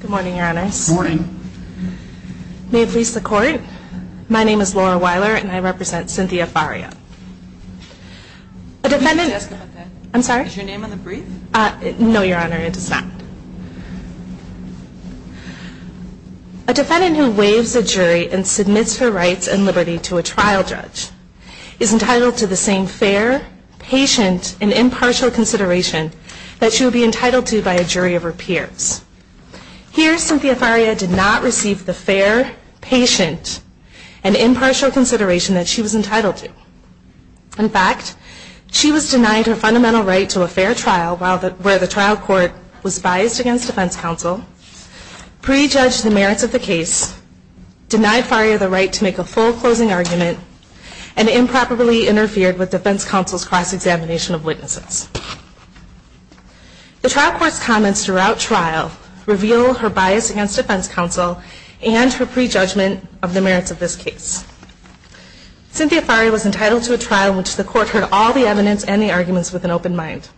Good morning Your Honor. May it please the court, my name is Laura Weiler and I represent Cynthia Faria. A defendant who waives a jury and submits her rights and liberty to a trial judge is entitled to the same fair, patient, and impartial consideration that she would be entitled to by a jury of her peers. Here, Cynthia Faria did not receive the fair, patient, and impartial consideration that she was entitled to. In fact, she was denied her fundamental right to a fair trial where the trial court was biased against defense counsel, pre-judged the merits of the case, denied Faria the right to make a full closing argument, and improperly interfered with defense counsel's cross-examination of witnesses. The trial court's comments throughout trial reveal her bias against defense counsel and her pre-judgment of the merits of this case. Cynthia Faria was entitled to a trial in which the court heard all the evidence and the arguments with an open mind.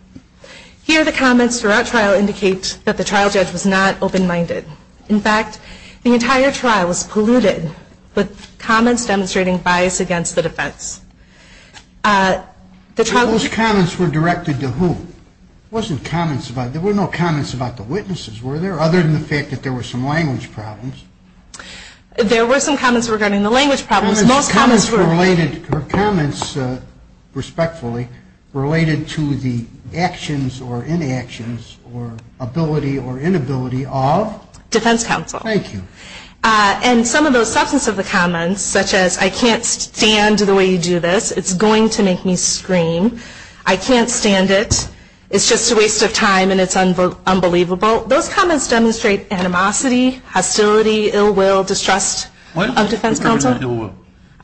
Here, the comments throughout trial indicate that the trial judge was not open-minded. In fact, the entire trial was polluted with comments demonstrating bias against the defense. Those comments were directed to whom? There were no comments about the witnesses, were there? Other than the fact that there were some language problems. There were some comments regarding the language problems. Most comments were related, or comments, respectfully, related to the actions or inactions or ability or inability of defense counsel. Thank you. And some of those substance of the comments, such as, I can't stand the way you do this, it's going to make me scream, I can't stand it, it's just a waste of time and it's unbelievable. Those comments demonstrate animosity, hostility, ill will, distrust of defense counsel.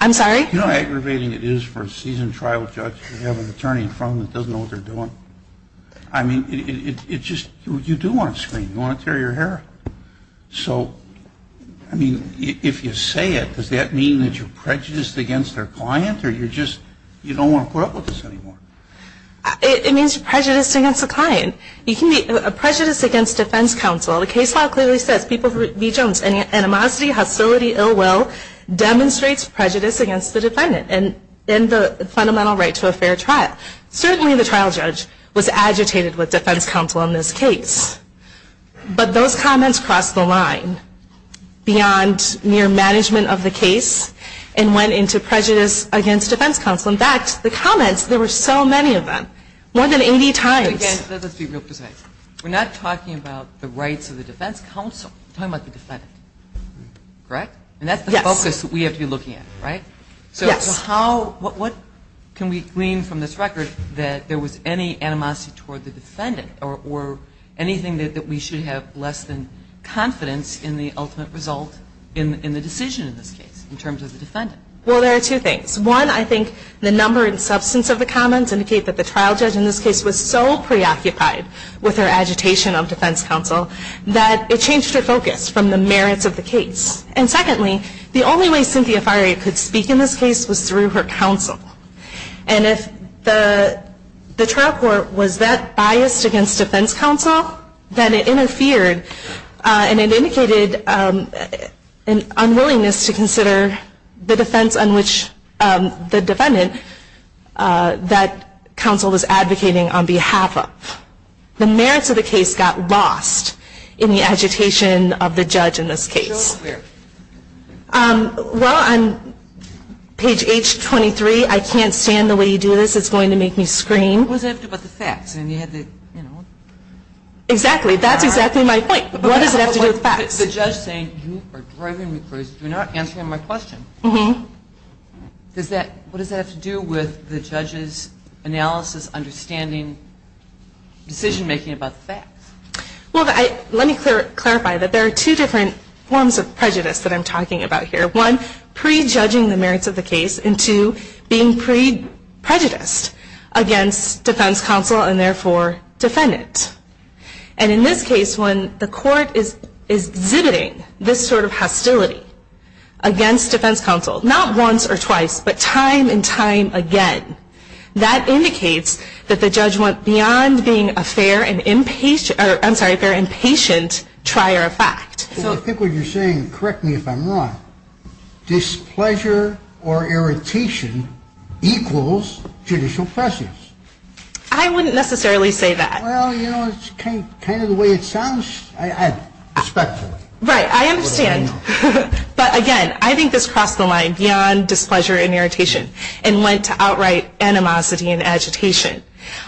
I'm sorry? You know how aggravating it is for a seasoned trial judge to have an attorney in front of them that doesn't know what they're doing? I mean, it's just, you do want to scream, you want to tear your hair. So, I mean, if you say it, does that mean that you're prejudiced against their client or you're just, you don't want to put up with this anymore? It means you're prejudiced against the client. You can be prejudiced against defense counsel. The case law clearly says, people who, B. Jones, animosity, hostility, ill will, demonstrates prejudice against the defendant and the fundamental right to a fair trial. Certainly the trial judge was agitated with defense counsel in this case, but those comments crossed the line beyond mere management of the case and went into prejudice against defense counsel. In fact, the comments, there were so many of them, more than 80 times. Let's be real precise. We're not talking about the rights of the defense counsel. We're talking about the defendant, correct? And that's the focus that we have to be looking at, right? Yes. So how, what can we glean from this record that there was any animosity toward the defendant or anything that we should have less than confidence in the ultimate result in the decision in this case, in terms of the defendant? Well, there are two things. One, I think the number and substance of the comments indicate that the trial judge in this case was so preoccupied with her agitation of defense counsel that it changed her focus from the merits of the case. And secondly, the only way Cynthia Fiery could speak in this case was through her counsel. And if the trial court was that biased against defense counsel, then it interfered and it changed her focus from the merits of the case to the merits that counsel was advocating on behalf of. The merits of the case got lost in the agitation of the judge in this case. Well, on page H23, I can't stand the way you do this. It's going to make me scream. What does it have to do with the facts? Exactly. That's exactly my point. What does it have to do with facts? The judge saying, you are driving me crazy. Do not answer my question. What does that have to do with the judge's analysis, understanding, decision-making about the facts? Well, let me clarify that there are two different forms of prejudice that I'm talking about here. One, prejudging the merits of the case. And two, being pre-prejudiced against defense counsel and therefore defendant. And in this case, when the court is exhibiting this sort of hostility against defense counsel, not once or twice, but time and time again, that indicates that the judge went beyond being a fair and impatient, I'm sorry, a fair and patient trier of fact. I think what you're saying, correct me if I'm wrong, displeasure or irritation equals judicial prejudice. I wouldn't necessarily say that. Well, you know, it's kind of the way it sounds, respectfully. Right. I understand. But again, I think this crossed the line beyond displeasure and irritation and went to outright animosity and agitation.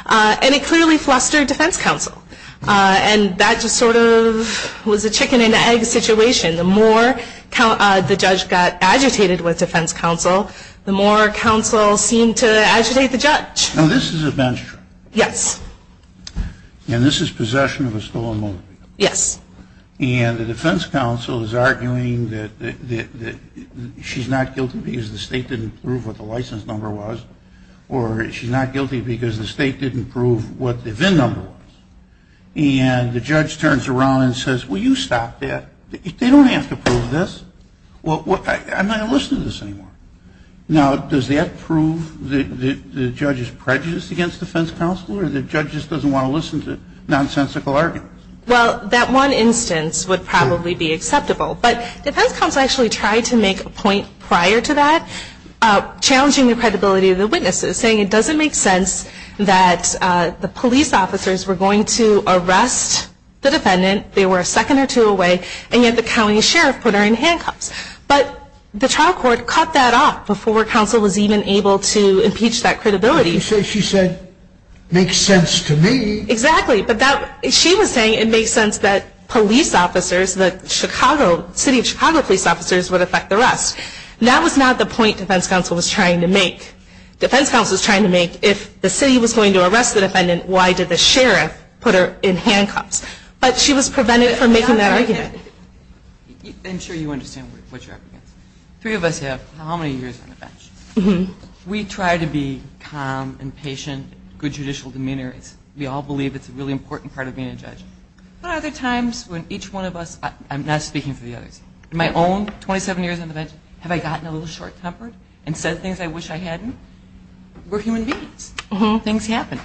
And it clearly flustered defense counsel. And that just sort of was a chicken and egg situation. The more the judge got agitated with defense counsel, the more counsel seemed to agitate the judge. Now, this is a bench trip. Yes. And this is possession of a stolen motor vehicle. Yes. And the defense counsel is arguing that she's not guilty because the state didn't prove what the license number was or she's not guilty because the state didn't prove what the VIN number was. And the judge turns around and says, well, you stopped that. They don't have to prove this. Well, I'm not going to listen to this anymore. Now, does that prove the judge's prejudice against defense counsel or the judge just doesn't want to listen to nonsensical arguments? Well, that one instance would probably be acceptable. But defense counsel actually tried to make a point prior to that, challenging the credibility of the witnesses, saying it doesn't make sense that the police officers were going to arrest the defendant. They were a second or two away, and yet the county sheriff put her in handcuffs. But the trial court cut that off before counsel was even able to impeach that credibility. You say she said, makes sense to me. Exactly. But she was saying it makes sense that police officers, the city of Chicago police officers, would affect the rest. That was not the point defense counsel was trying to make. Defense counsel was trying to make, if the city was going to arrest the defendant, why did the sheriff put her in handcuffs? But she was prevented from making that argument. I'm sure you understand what you're up against. Three of us have how many years on the bench? We try to be calm and patient, good judicial demeanor. We all believe it's a really important part of being a judge. But other times when each one of us, I'm not speaking for the others, in my own 27 years on the bench, have I gotten a little short-tempered and said things I wish I hadn't? We're human beings. Things happen.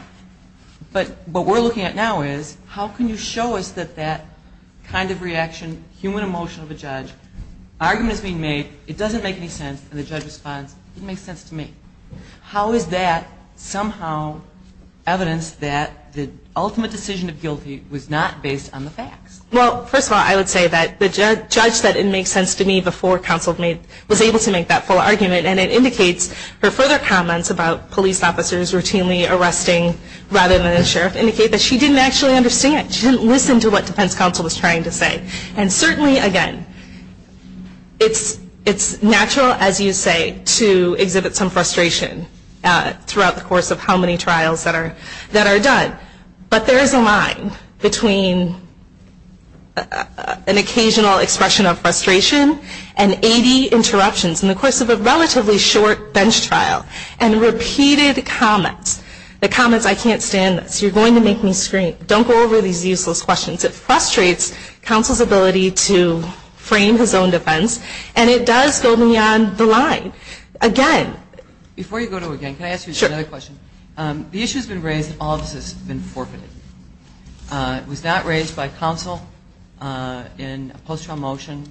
But what we're looking at now is how can you show us that that kind of reaction, human emotion of a judge, argument is being made, it doesn't make any sense, and the judge responds, it makes sense to me. How is that somehow evidence that the ultimate decision of guilty was not based on the facts? Well, first of all, I would say that the judge said it makes sense to me before counsel was able to make that full argument. And it indicates her further comments about police officers routinely arresting rather than a sheriff indicate that she didn't actually understand. She didn't listen to what defense counsel was trying to say. And certainly, again, it's natural, as you say, to exhibit some frustration throughout the course of how many trials that are done. But there is a line between an occasional expression of frustration and 80 interruptions. In the course of a relatively short bench trial and repeated comments, the comments, I can't stand this, you're going to make me scream, don't go over these useless questions. It frustrates counsel's ability to frame his own defense. And it does go beyond the line. Again. Before you go to it again, can I ask you another question? Sure. The issue has been raised and all of this has been forfeited. It was not raised by counsel in a post-trial motion.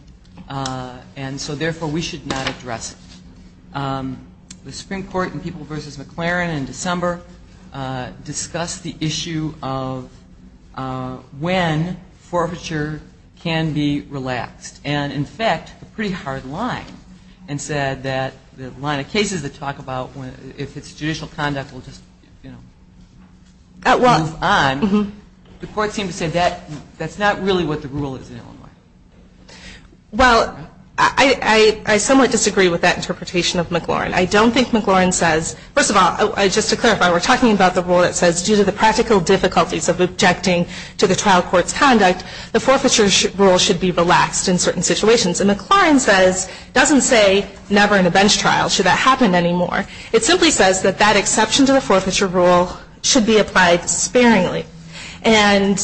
And so, therefore, we should not address it. The Supreme Court in People v. McLaren in December discussed the issue of when forfeiture can be relaxed. And in fact, a pretty hard line, and said that the line of cases that talk about if it's judicial conduct, we'll just move on. The court seemed to say that's not really what the rule is in Illinois. Well, I somewhat disagree with that interpretation of McLaren. I don't think McLaren says, first of all, just to clarify, we're talking about the rule that says due to the practical difficulties of objecting to the trial court's conduct, the forfeiture rule should be relaxed in certain situations. And McLaren says, doesn't say never in a bench trial should that happen anymore. It simply says that that exception to the forfeiture rule should be applied sparingly. And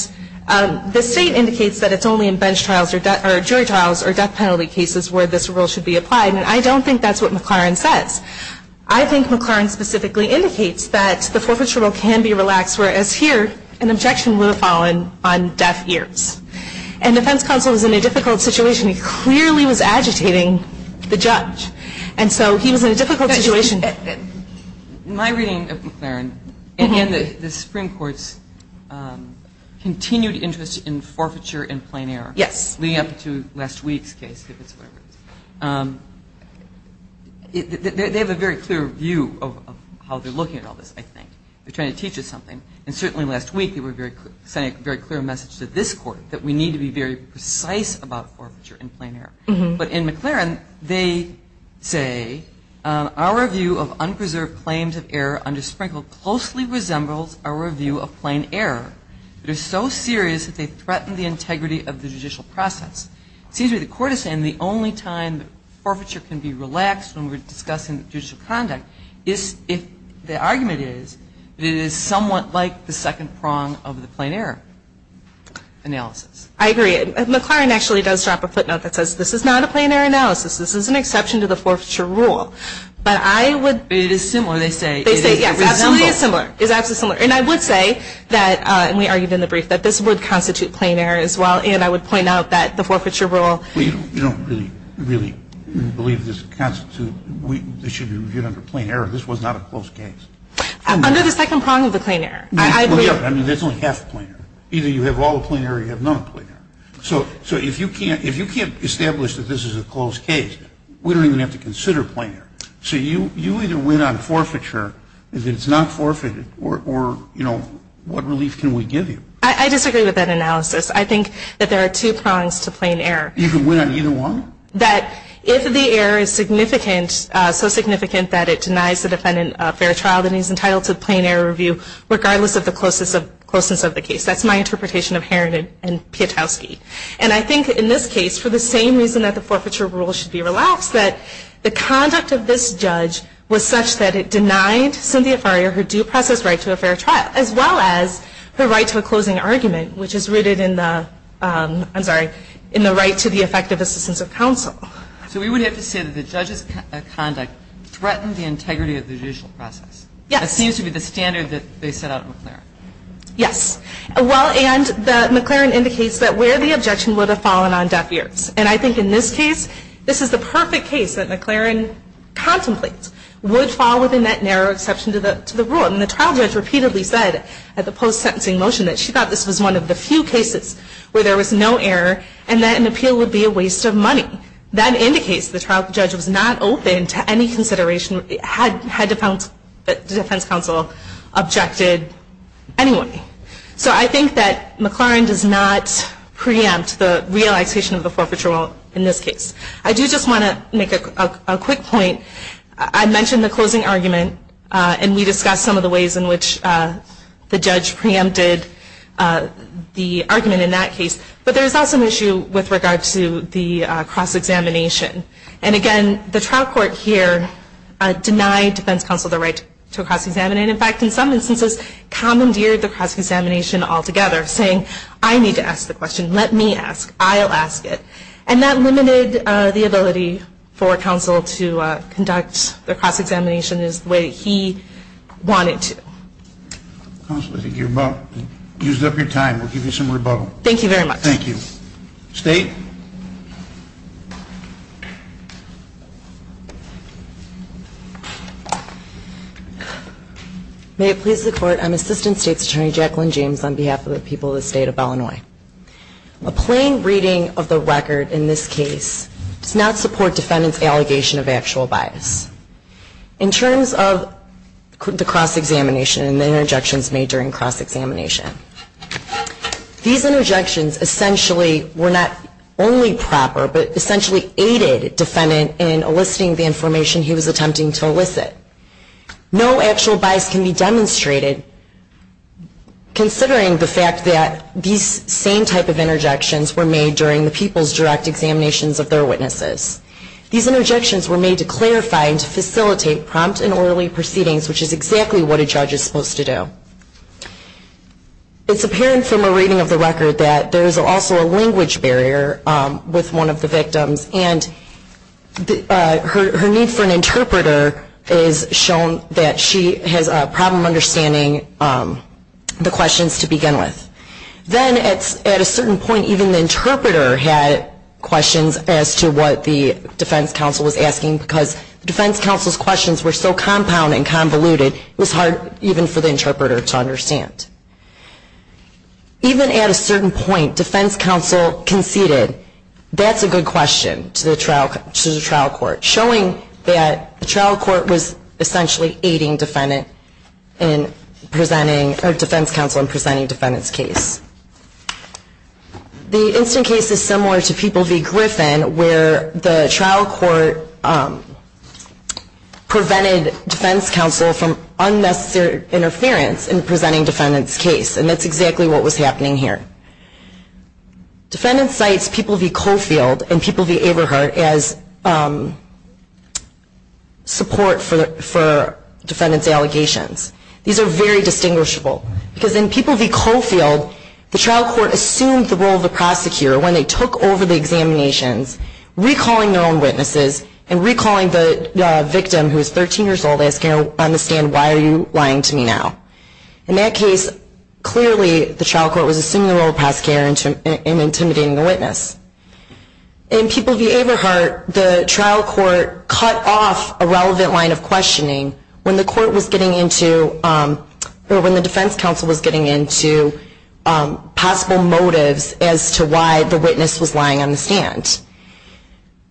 the state indicates that it's only in bench trials or jury trials or death penalty cases where this rule should be applied. And I don't think that's what McLaren says. I think McLaren specifically indicates that the forfeiture rule can be relaxed, whereas here an objection would have fallen on deaf ears. And defense counsel was in a difficult situation. He clearly was agitating the judge. And so he was in a difficult situation. My reading of McLaren, and the Supreme Court's continued interest in forfeiture in plain error, leading up to last week's case, they have a very clear view of how they're looking at all this, I think. They're trying to teach us something. And certainly last week they were sending a very clear message to this Court that we need to be very precise about forfeiture in plain error. But in McLaren, they say, our review of unpreserved claims of error under Sprinkle closely resembles our review of plain error. They're so serious that they threaten the integrity of the judicial process. It seems to me the Court is saying the only time forfeiture can be relaxed when we're discussing judicial conduct is if the argument is that it is somewhat like the second prong of the plain error analysis. I agree. McLaren actually does drop a footnote that says this is not a plain error analysis. This is an exception to the forfeiture rule. But I would – It is similar, they say. It is absolutely similar. It is absolutely similar. And I would say that, and we argued in the brief, that this would constitute plain error as well. And I would point out that the forfeiture rule – You don't really believe this constitutes – this should be reviewed under plain error. This was not a close case. Under the second prong of the plain error. Look at it. I mean, there's only half a plain error. Either you have all a plain error or you have none a plain error. So if you can't establish that this is a close case, we don't even have to consider plain error. So you either win on forfeiture if it's not forfeited, or, you know, what relief can we give you? I disagree with that analysis. I think that there are two prongs to plain error. You can win on either one? That if the error is significant, so significant that it denies the defendant a fair trial, then he's entitled to a plain error review, regardless of the closeness of the case. That's my interpretation of Herron and Pietowski. And I think in this case, for the same reason that the forfeiture rule should be relaxed, that the conduct of this judge was such that it denied Cynthia Farrier her due process right to a fair trial, as well as her right to a closing argument, which is rooted in the, I'm sorry, in the right to the effective assistance of counsel. So we would have to say that the judge's conduct threatened the integrity of the judicial process. Yes. That seems to be the standard that they set out in McLaren. Yes. Well, and McLaren indicates that where the objection would have fallen on deaf ears. And I think in this case, this is the perfect case that McLaren contemplates, would fall within that narrow exception to the rule. And the trial judge repeatedly said, at the post-sentencing motion, that she thought this was one of the few cases where there was no error, and that an appeal would be a waste of money. That indicates the trial judge was not open to any consideration, had the defense counsel objected anyway. So I think that McLaren does not preempt the relaxation of the forfeiture rule in this case. I do just want to make a quick point. I mentioned the closing argument, and we discussed some of the ways in which the judge preempted the argument in that case. But there is also an issue with regard to the cross-examination. And, again, the trial court here denied defense counsel the right to cross-examine. In fact, in some instances, commandeered the cross-examination altogether, saying, I need to ask the question. Let me ask. I'll ask it. And that limited the ability for counsel to conduct the cross-examination as the way he wanted to. Counsel, I think you've used up your time. We'll give you some rebuttal. Thank you very much. Thank you. State. May it please the Court, I'm Assistant State's Attorney Jacqueline James, on behalf of the people of the State of Illinois. A plain reading of the record in this case does not support defendant's allegation of actual bias. In terms of the cross-examination and the interjections made during cross-examination, these interjections essentially were not only proper, but essentially aided defendant in eliciting the information he was attempting to elicit. No actual bias can be demonstrated considering the fact that these same type of interjections were made during the people's direct examinations of their witnesses. These interjections were made to clarify and to facilitate prompt and orderly proceedings, which is exactly what a judge is supposed to do. It's apparent from a reading of the record that there is also a language barrier with one of the victims, and her need for an interpreter is shown that she has a problem understanding the questions to begin with. Then at a certain point, even the interpreter had questions as to what the defense counsel was asking, because the defense counsel's questions were so compound and convoluted, it was hard even for the interpreter to understand. Even at a certain point, defense counsel conceded, that's a good question to the trial court, showing that the trial court was essentially aiding defense counsel in presenting defendant's case. The instant case is similar to People v. Griffin, where the trial court prevented defense counsel from unnecessary interference in presenting defendant's case. And that's exactly what was happening here. Defendant cites People v. Coffield and People v. Everhart as support for defendant's allegations. These are very distinguishable, because in People v. Coffield, the trial court assumed the role of the prosecutor when they took over the examinations, recalling their own witnesses, and recalling the victim, who is 13 years old, and asking her on the stand, why are you lying to me now? In that case, clearly the trial court was assuming the role of the prosecutor in intimidating the witness. In People v. Everhart, the trial court cut off a relevant line of questioning when the defense counsel was getting into possible motives as to why the witness was lying on the stand.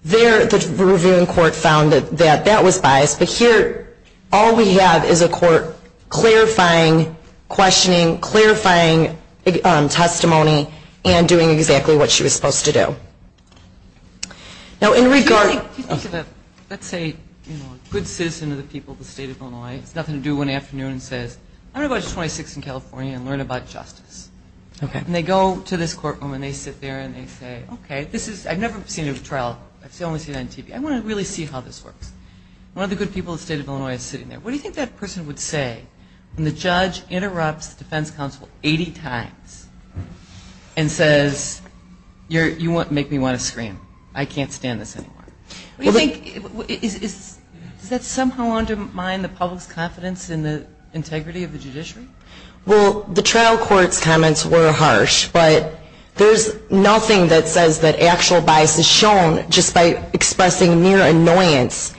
There, the reviewing court found that that was biased. But here, all we have is a court clarifying, questioning, clarifying testimony, and doing exactly what she was supposed to do. Now, in regard to the, let's say, you know, good citizen of the people of the state of Illinois, has nothing to do one afternoon and says, I'm going to go to 26th and California and learn about justice. And they go to this courtroom and they sit there and they say, okay, this is, I've never seen a trial, I've only seen it on TV, I want to really see how this works. One of the good people of the state of Illinois is sitting there. What do you think that person would say when the judge interrupts the defense counsel 80 times and says, you make me want to scream, I can't stand this anymore? What do you think, does that somehow undermine the public's confidence in the integrity of the judiciary? Well, the trial court's comments were harsh, but there's nothing that says that actual bias is shown just by expressing near annoyance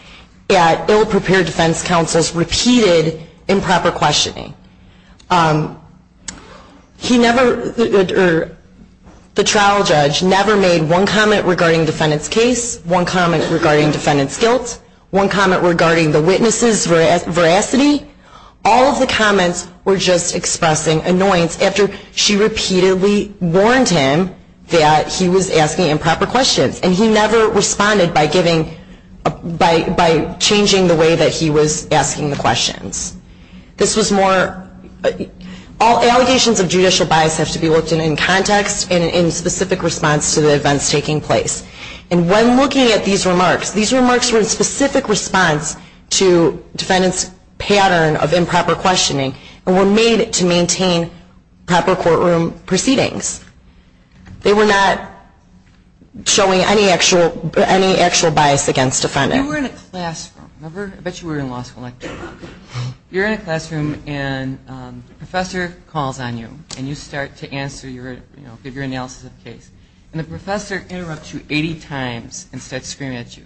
at ill-prepared defense counsel's repeated improper questioning. He never, or the trial judge never made one comment regarding defendant's case, one comment regarding defendant's guilt, one comment regarding the witness's veracity. All of the comments were just expressing annoyance after she repeatedly warned him that he was asking improper questions. And he never responded by giving, by changing the way that he was asking the questions. This was more, all allegations of judicial bias have to be looked at in context and in specific response to the events taking place. And when looking at these remarks, these remarks were in specific response to defendant's pattern of improper questioning and were made to maintain proper courtroom proceedings. They were not showing any actual bias against defendant. You were in a classroom, remember, I bet you were in law school, you're in a classroom and a professor calls on you and you start to answer, you know, give your analysis of the case. And the professor interrupts you 80 times and starts screaming at you.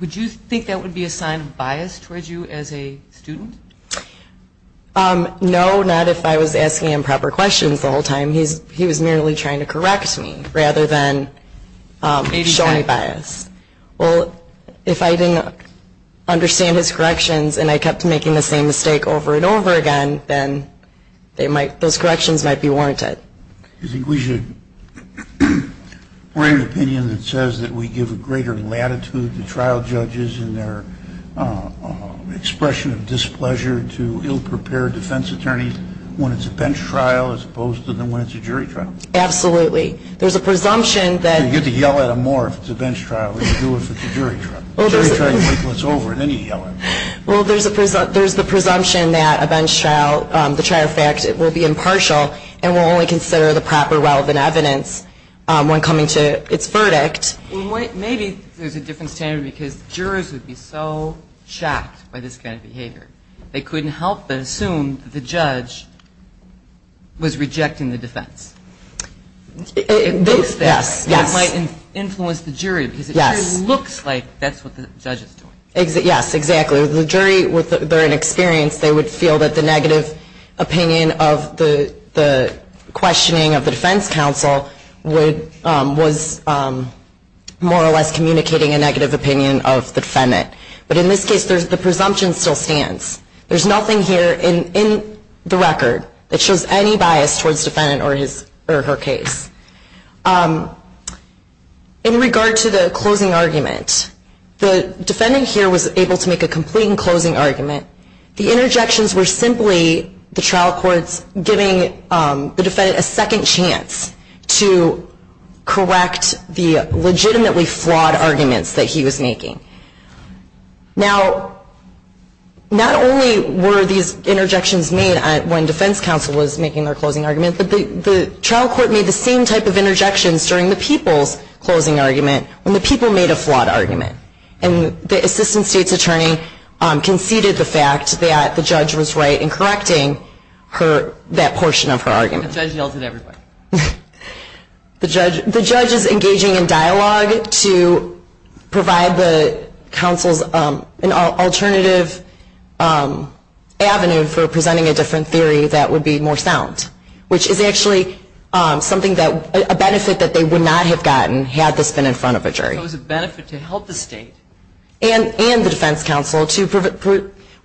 Would you think that would be a sign of bias towards you as a student? No, not if I was asking improper questions the whole time. He was merely trying to correct me rather than showing bias. Well, if I didn't understand his corrections and I kept making the same mistake over and over again, then those corrections might be warranted. Do you think we should bring an opinion that says that we give a greater latitude to trial judges in their expression of displeasure to ill-prepared defense attorneys when it's a bench trial as opposed to when it's a jury trial? Absolutely. There's a presumption that... You get to yell at them more if it's a bench trial than you do if it's a jury trial. Well, there's... Jury trial, you wait until it's over and then you yell at them. Well, there's the presumption that a bench trial, the trial effect will be impartial and will only consider the proper relevant evidence when coming to its verdict. Maybe there's a different standard because jurors would be so shocked by this kind of behavior. They couldn't help but assume that the judge was rejecting the defense. It looks that way. Yes. It might influence the jury because it really looks like that's what the judge is doing. Yes, exactly. The jury, with their inexperience, they would feel that the negative opinion of the questioning of the defense counsel was more or less communicating a negative opinion of the defendant. But in this case, the presumption still stands. There's nothing here in the record that shows any bias towards the defendant or her case. In regard to the closing argument, the defendant here was able to make a complete closing argument. The interjections were simply the trial courts giving the defendant a second chance to correct the legitimately flawed arguments that he was making. Now, not only were these interjections made when defense counsel was making their closing argument, but the trial court made the same type of interjections during the people's closing argument when the people made a flawed argument. And the assistant state's attorney conceded the fact that the judge was right in correcting that portion of her argument. The judge yelled at everybody. The judge is engaging in dialogue to provide the counsels an alternative avenue for presenting a different theory that would be more sound, which is actually a benefit that they would not have gotten had this been in front of a jury. It was a benefit to help the state. And the defense counsel.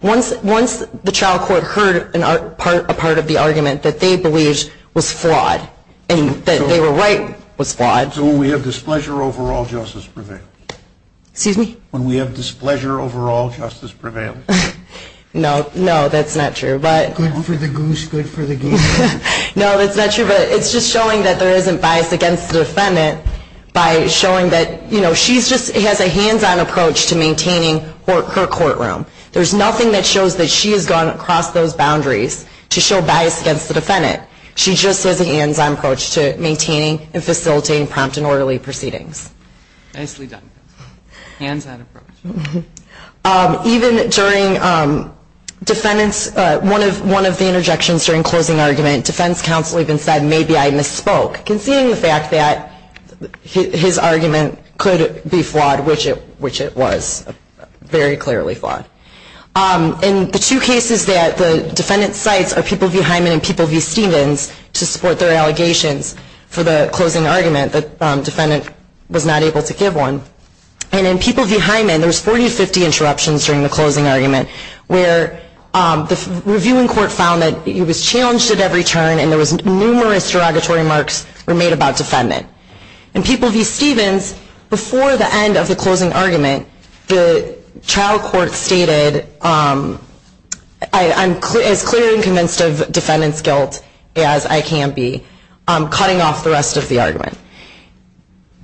Once the trial court heard a part of the argument that they believed was flawed and that they were right was flawed. So when we have displeasure overall, justice prevails. Excuse me? When we have displeasure overall, justice prevails. No, no, that's not true. Good for the goose, good for the goose. No, that's not true. But it's just showing that there isn't bias against the defendant by showing that, you know, she just has a hands-on approach to maintaining her courtroom. There's nothing that shows that she has gone across those boundaries to show bias against the defendant. She just has a hands-on approach to maintaining and facilitating prompt and orderly proceedings. Nicely done. Hands-on approach. Even during defendants, one of the interjections during closing argument, defense counsel even said, maybe I misspoke. Conceding the fact that his argument could be flawed, which it was. Very clearly flawed. In the two cases that the defendant cites are People v. Hyman and People v. Stevens to support their allegations for the closing argument, the defendant was not able to give one. And in People v. Hyman, there was 40 to 50 interruptions during the closing argument where the reviewing court found that he was challenged at every turn and there was numerous derogatory remarks were made about defendant. In People v. Stevens, before the end of the closing argument, the trial court stated, I'm as clear and convinced of defendant's guilt as I can be, cutting off the rest of the argument.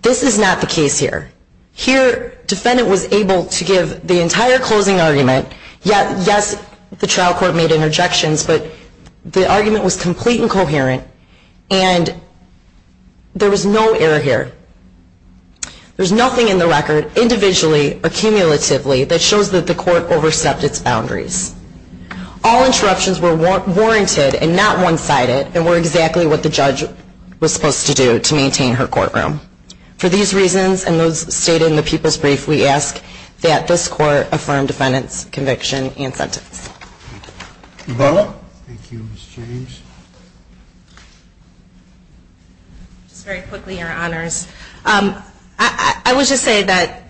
This is not the case here. Here, defendant was able to give the entire closing argument. Yes, the trial court made interjections, but the argument was complete and coherent. And there was no error here. There's nothing in the record, individually or cumulatively, that shows that the court overstepped its boundaries. All interruptions were warranted and not one-sided and were exactly what the judge was supposed to do to maintain her courtroom. For these reasons and those stated in the people's brief, we ask that this court affirm defendant's conviction and sentence. Thank you. Thank you, Ms. James. Just very quickly, Your Honors. I would just say that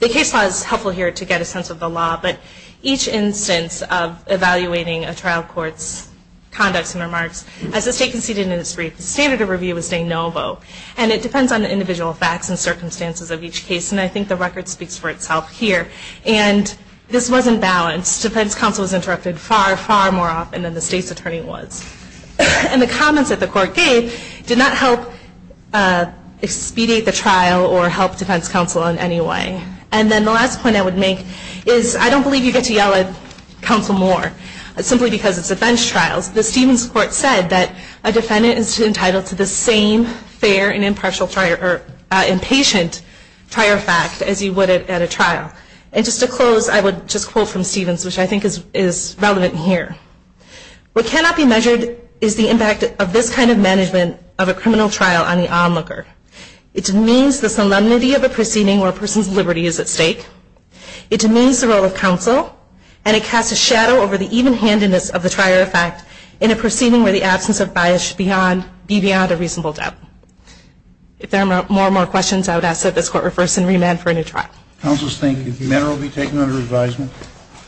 the case law is helpful here to get a sense of the law, but each instance of evaluating a trial court's conducts and remarks, as the state conceded in its brief, the standard of review was saying no vote. And it depends on the individual facts and circumstances of each case, and I think the record speaks for itself here. And this wasn't balanced. Defense counsel was interrupted far, far more often than the state's attorney was. And the comments that the court gave did not help expedite the trial or help defense counsel in any way. And then the last point I would make is I don't believe you get to yell at counsel more simply because it's a bench trial. The Stevens Court said that a defendant is entitled to the same fair and impartial trial or impatient trial fact as you would at a trial. And just to close, I would just quote from Stevens, which I think is relevant here. What cannot be measured is the impact of this kind of management of a criminal trial on the onlooker. It demeans the solemnity of a proceeding where a person's liberty is at stake. It demeans the role of counsel. And it casts a shadow over the even-handedness of the trier of fact in a proceeding where the absence of bias should be beyond a reasonable doubt. If there are more and more questions, I would ask that this court reverse and remand for a new trial. Counsel is thank you. The matter will be taken under advisement.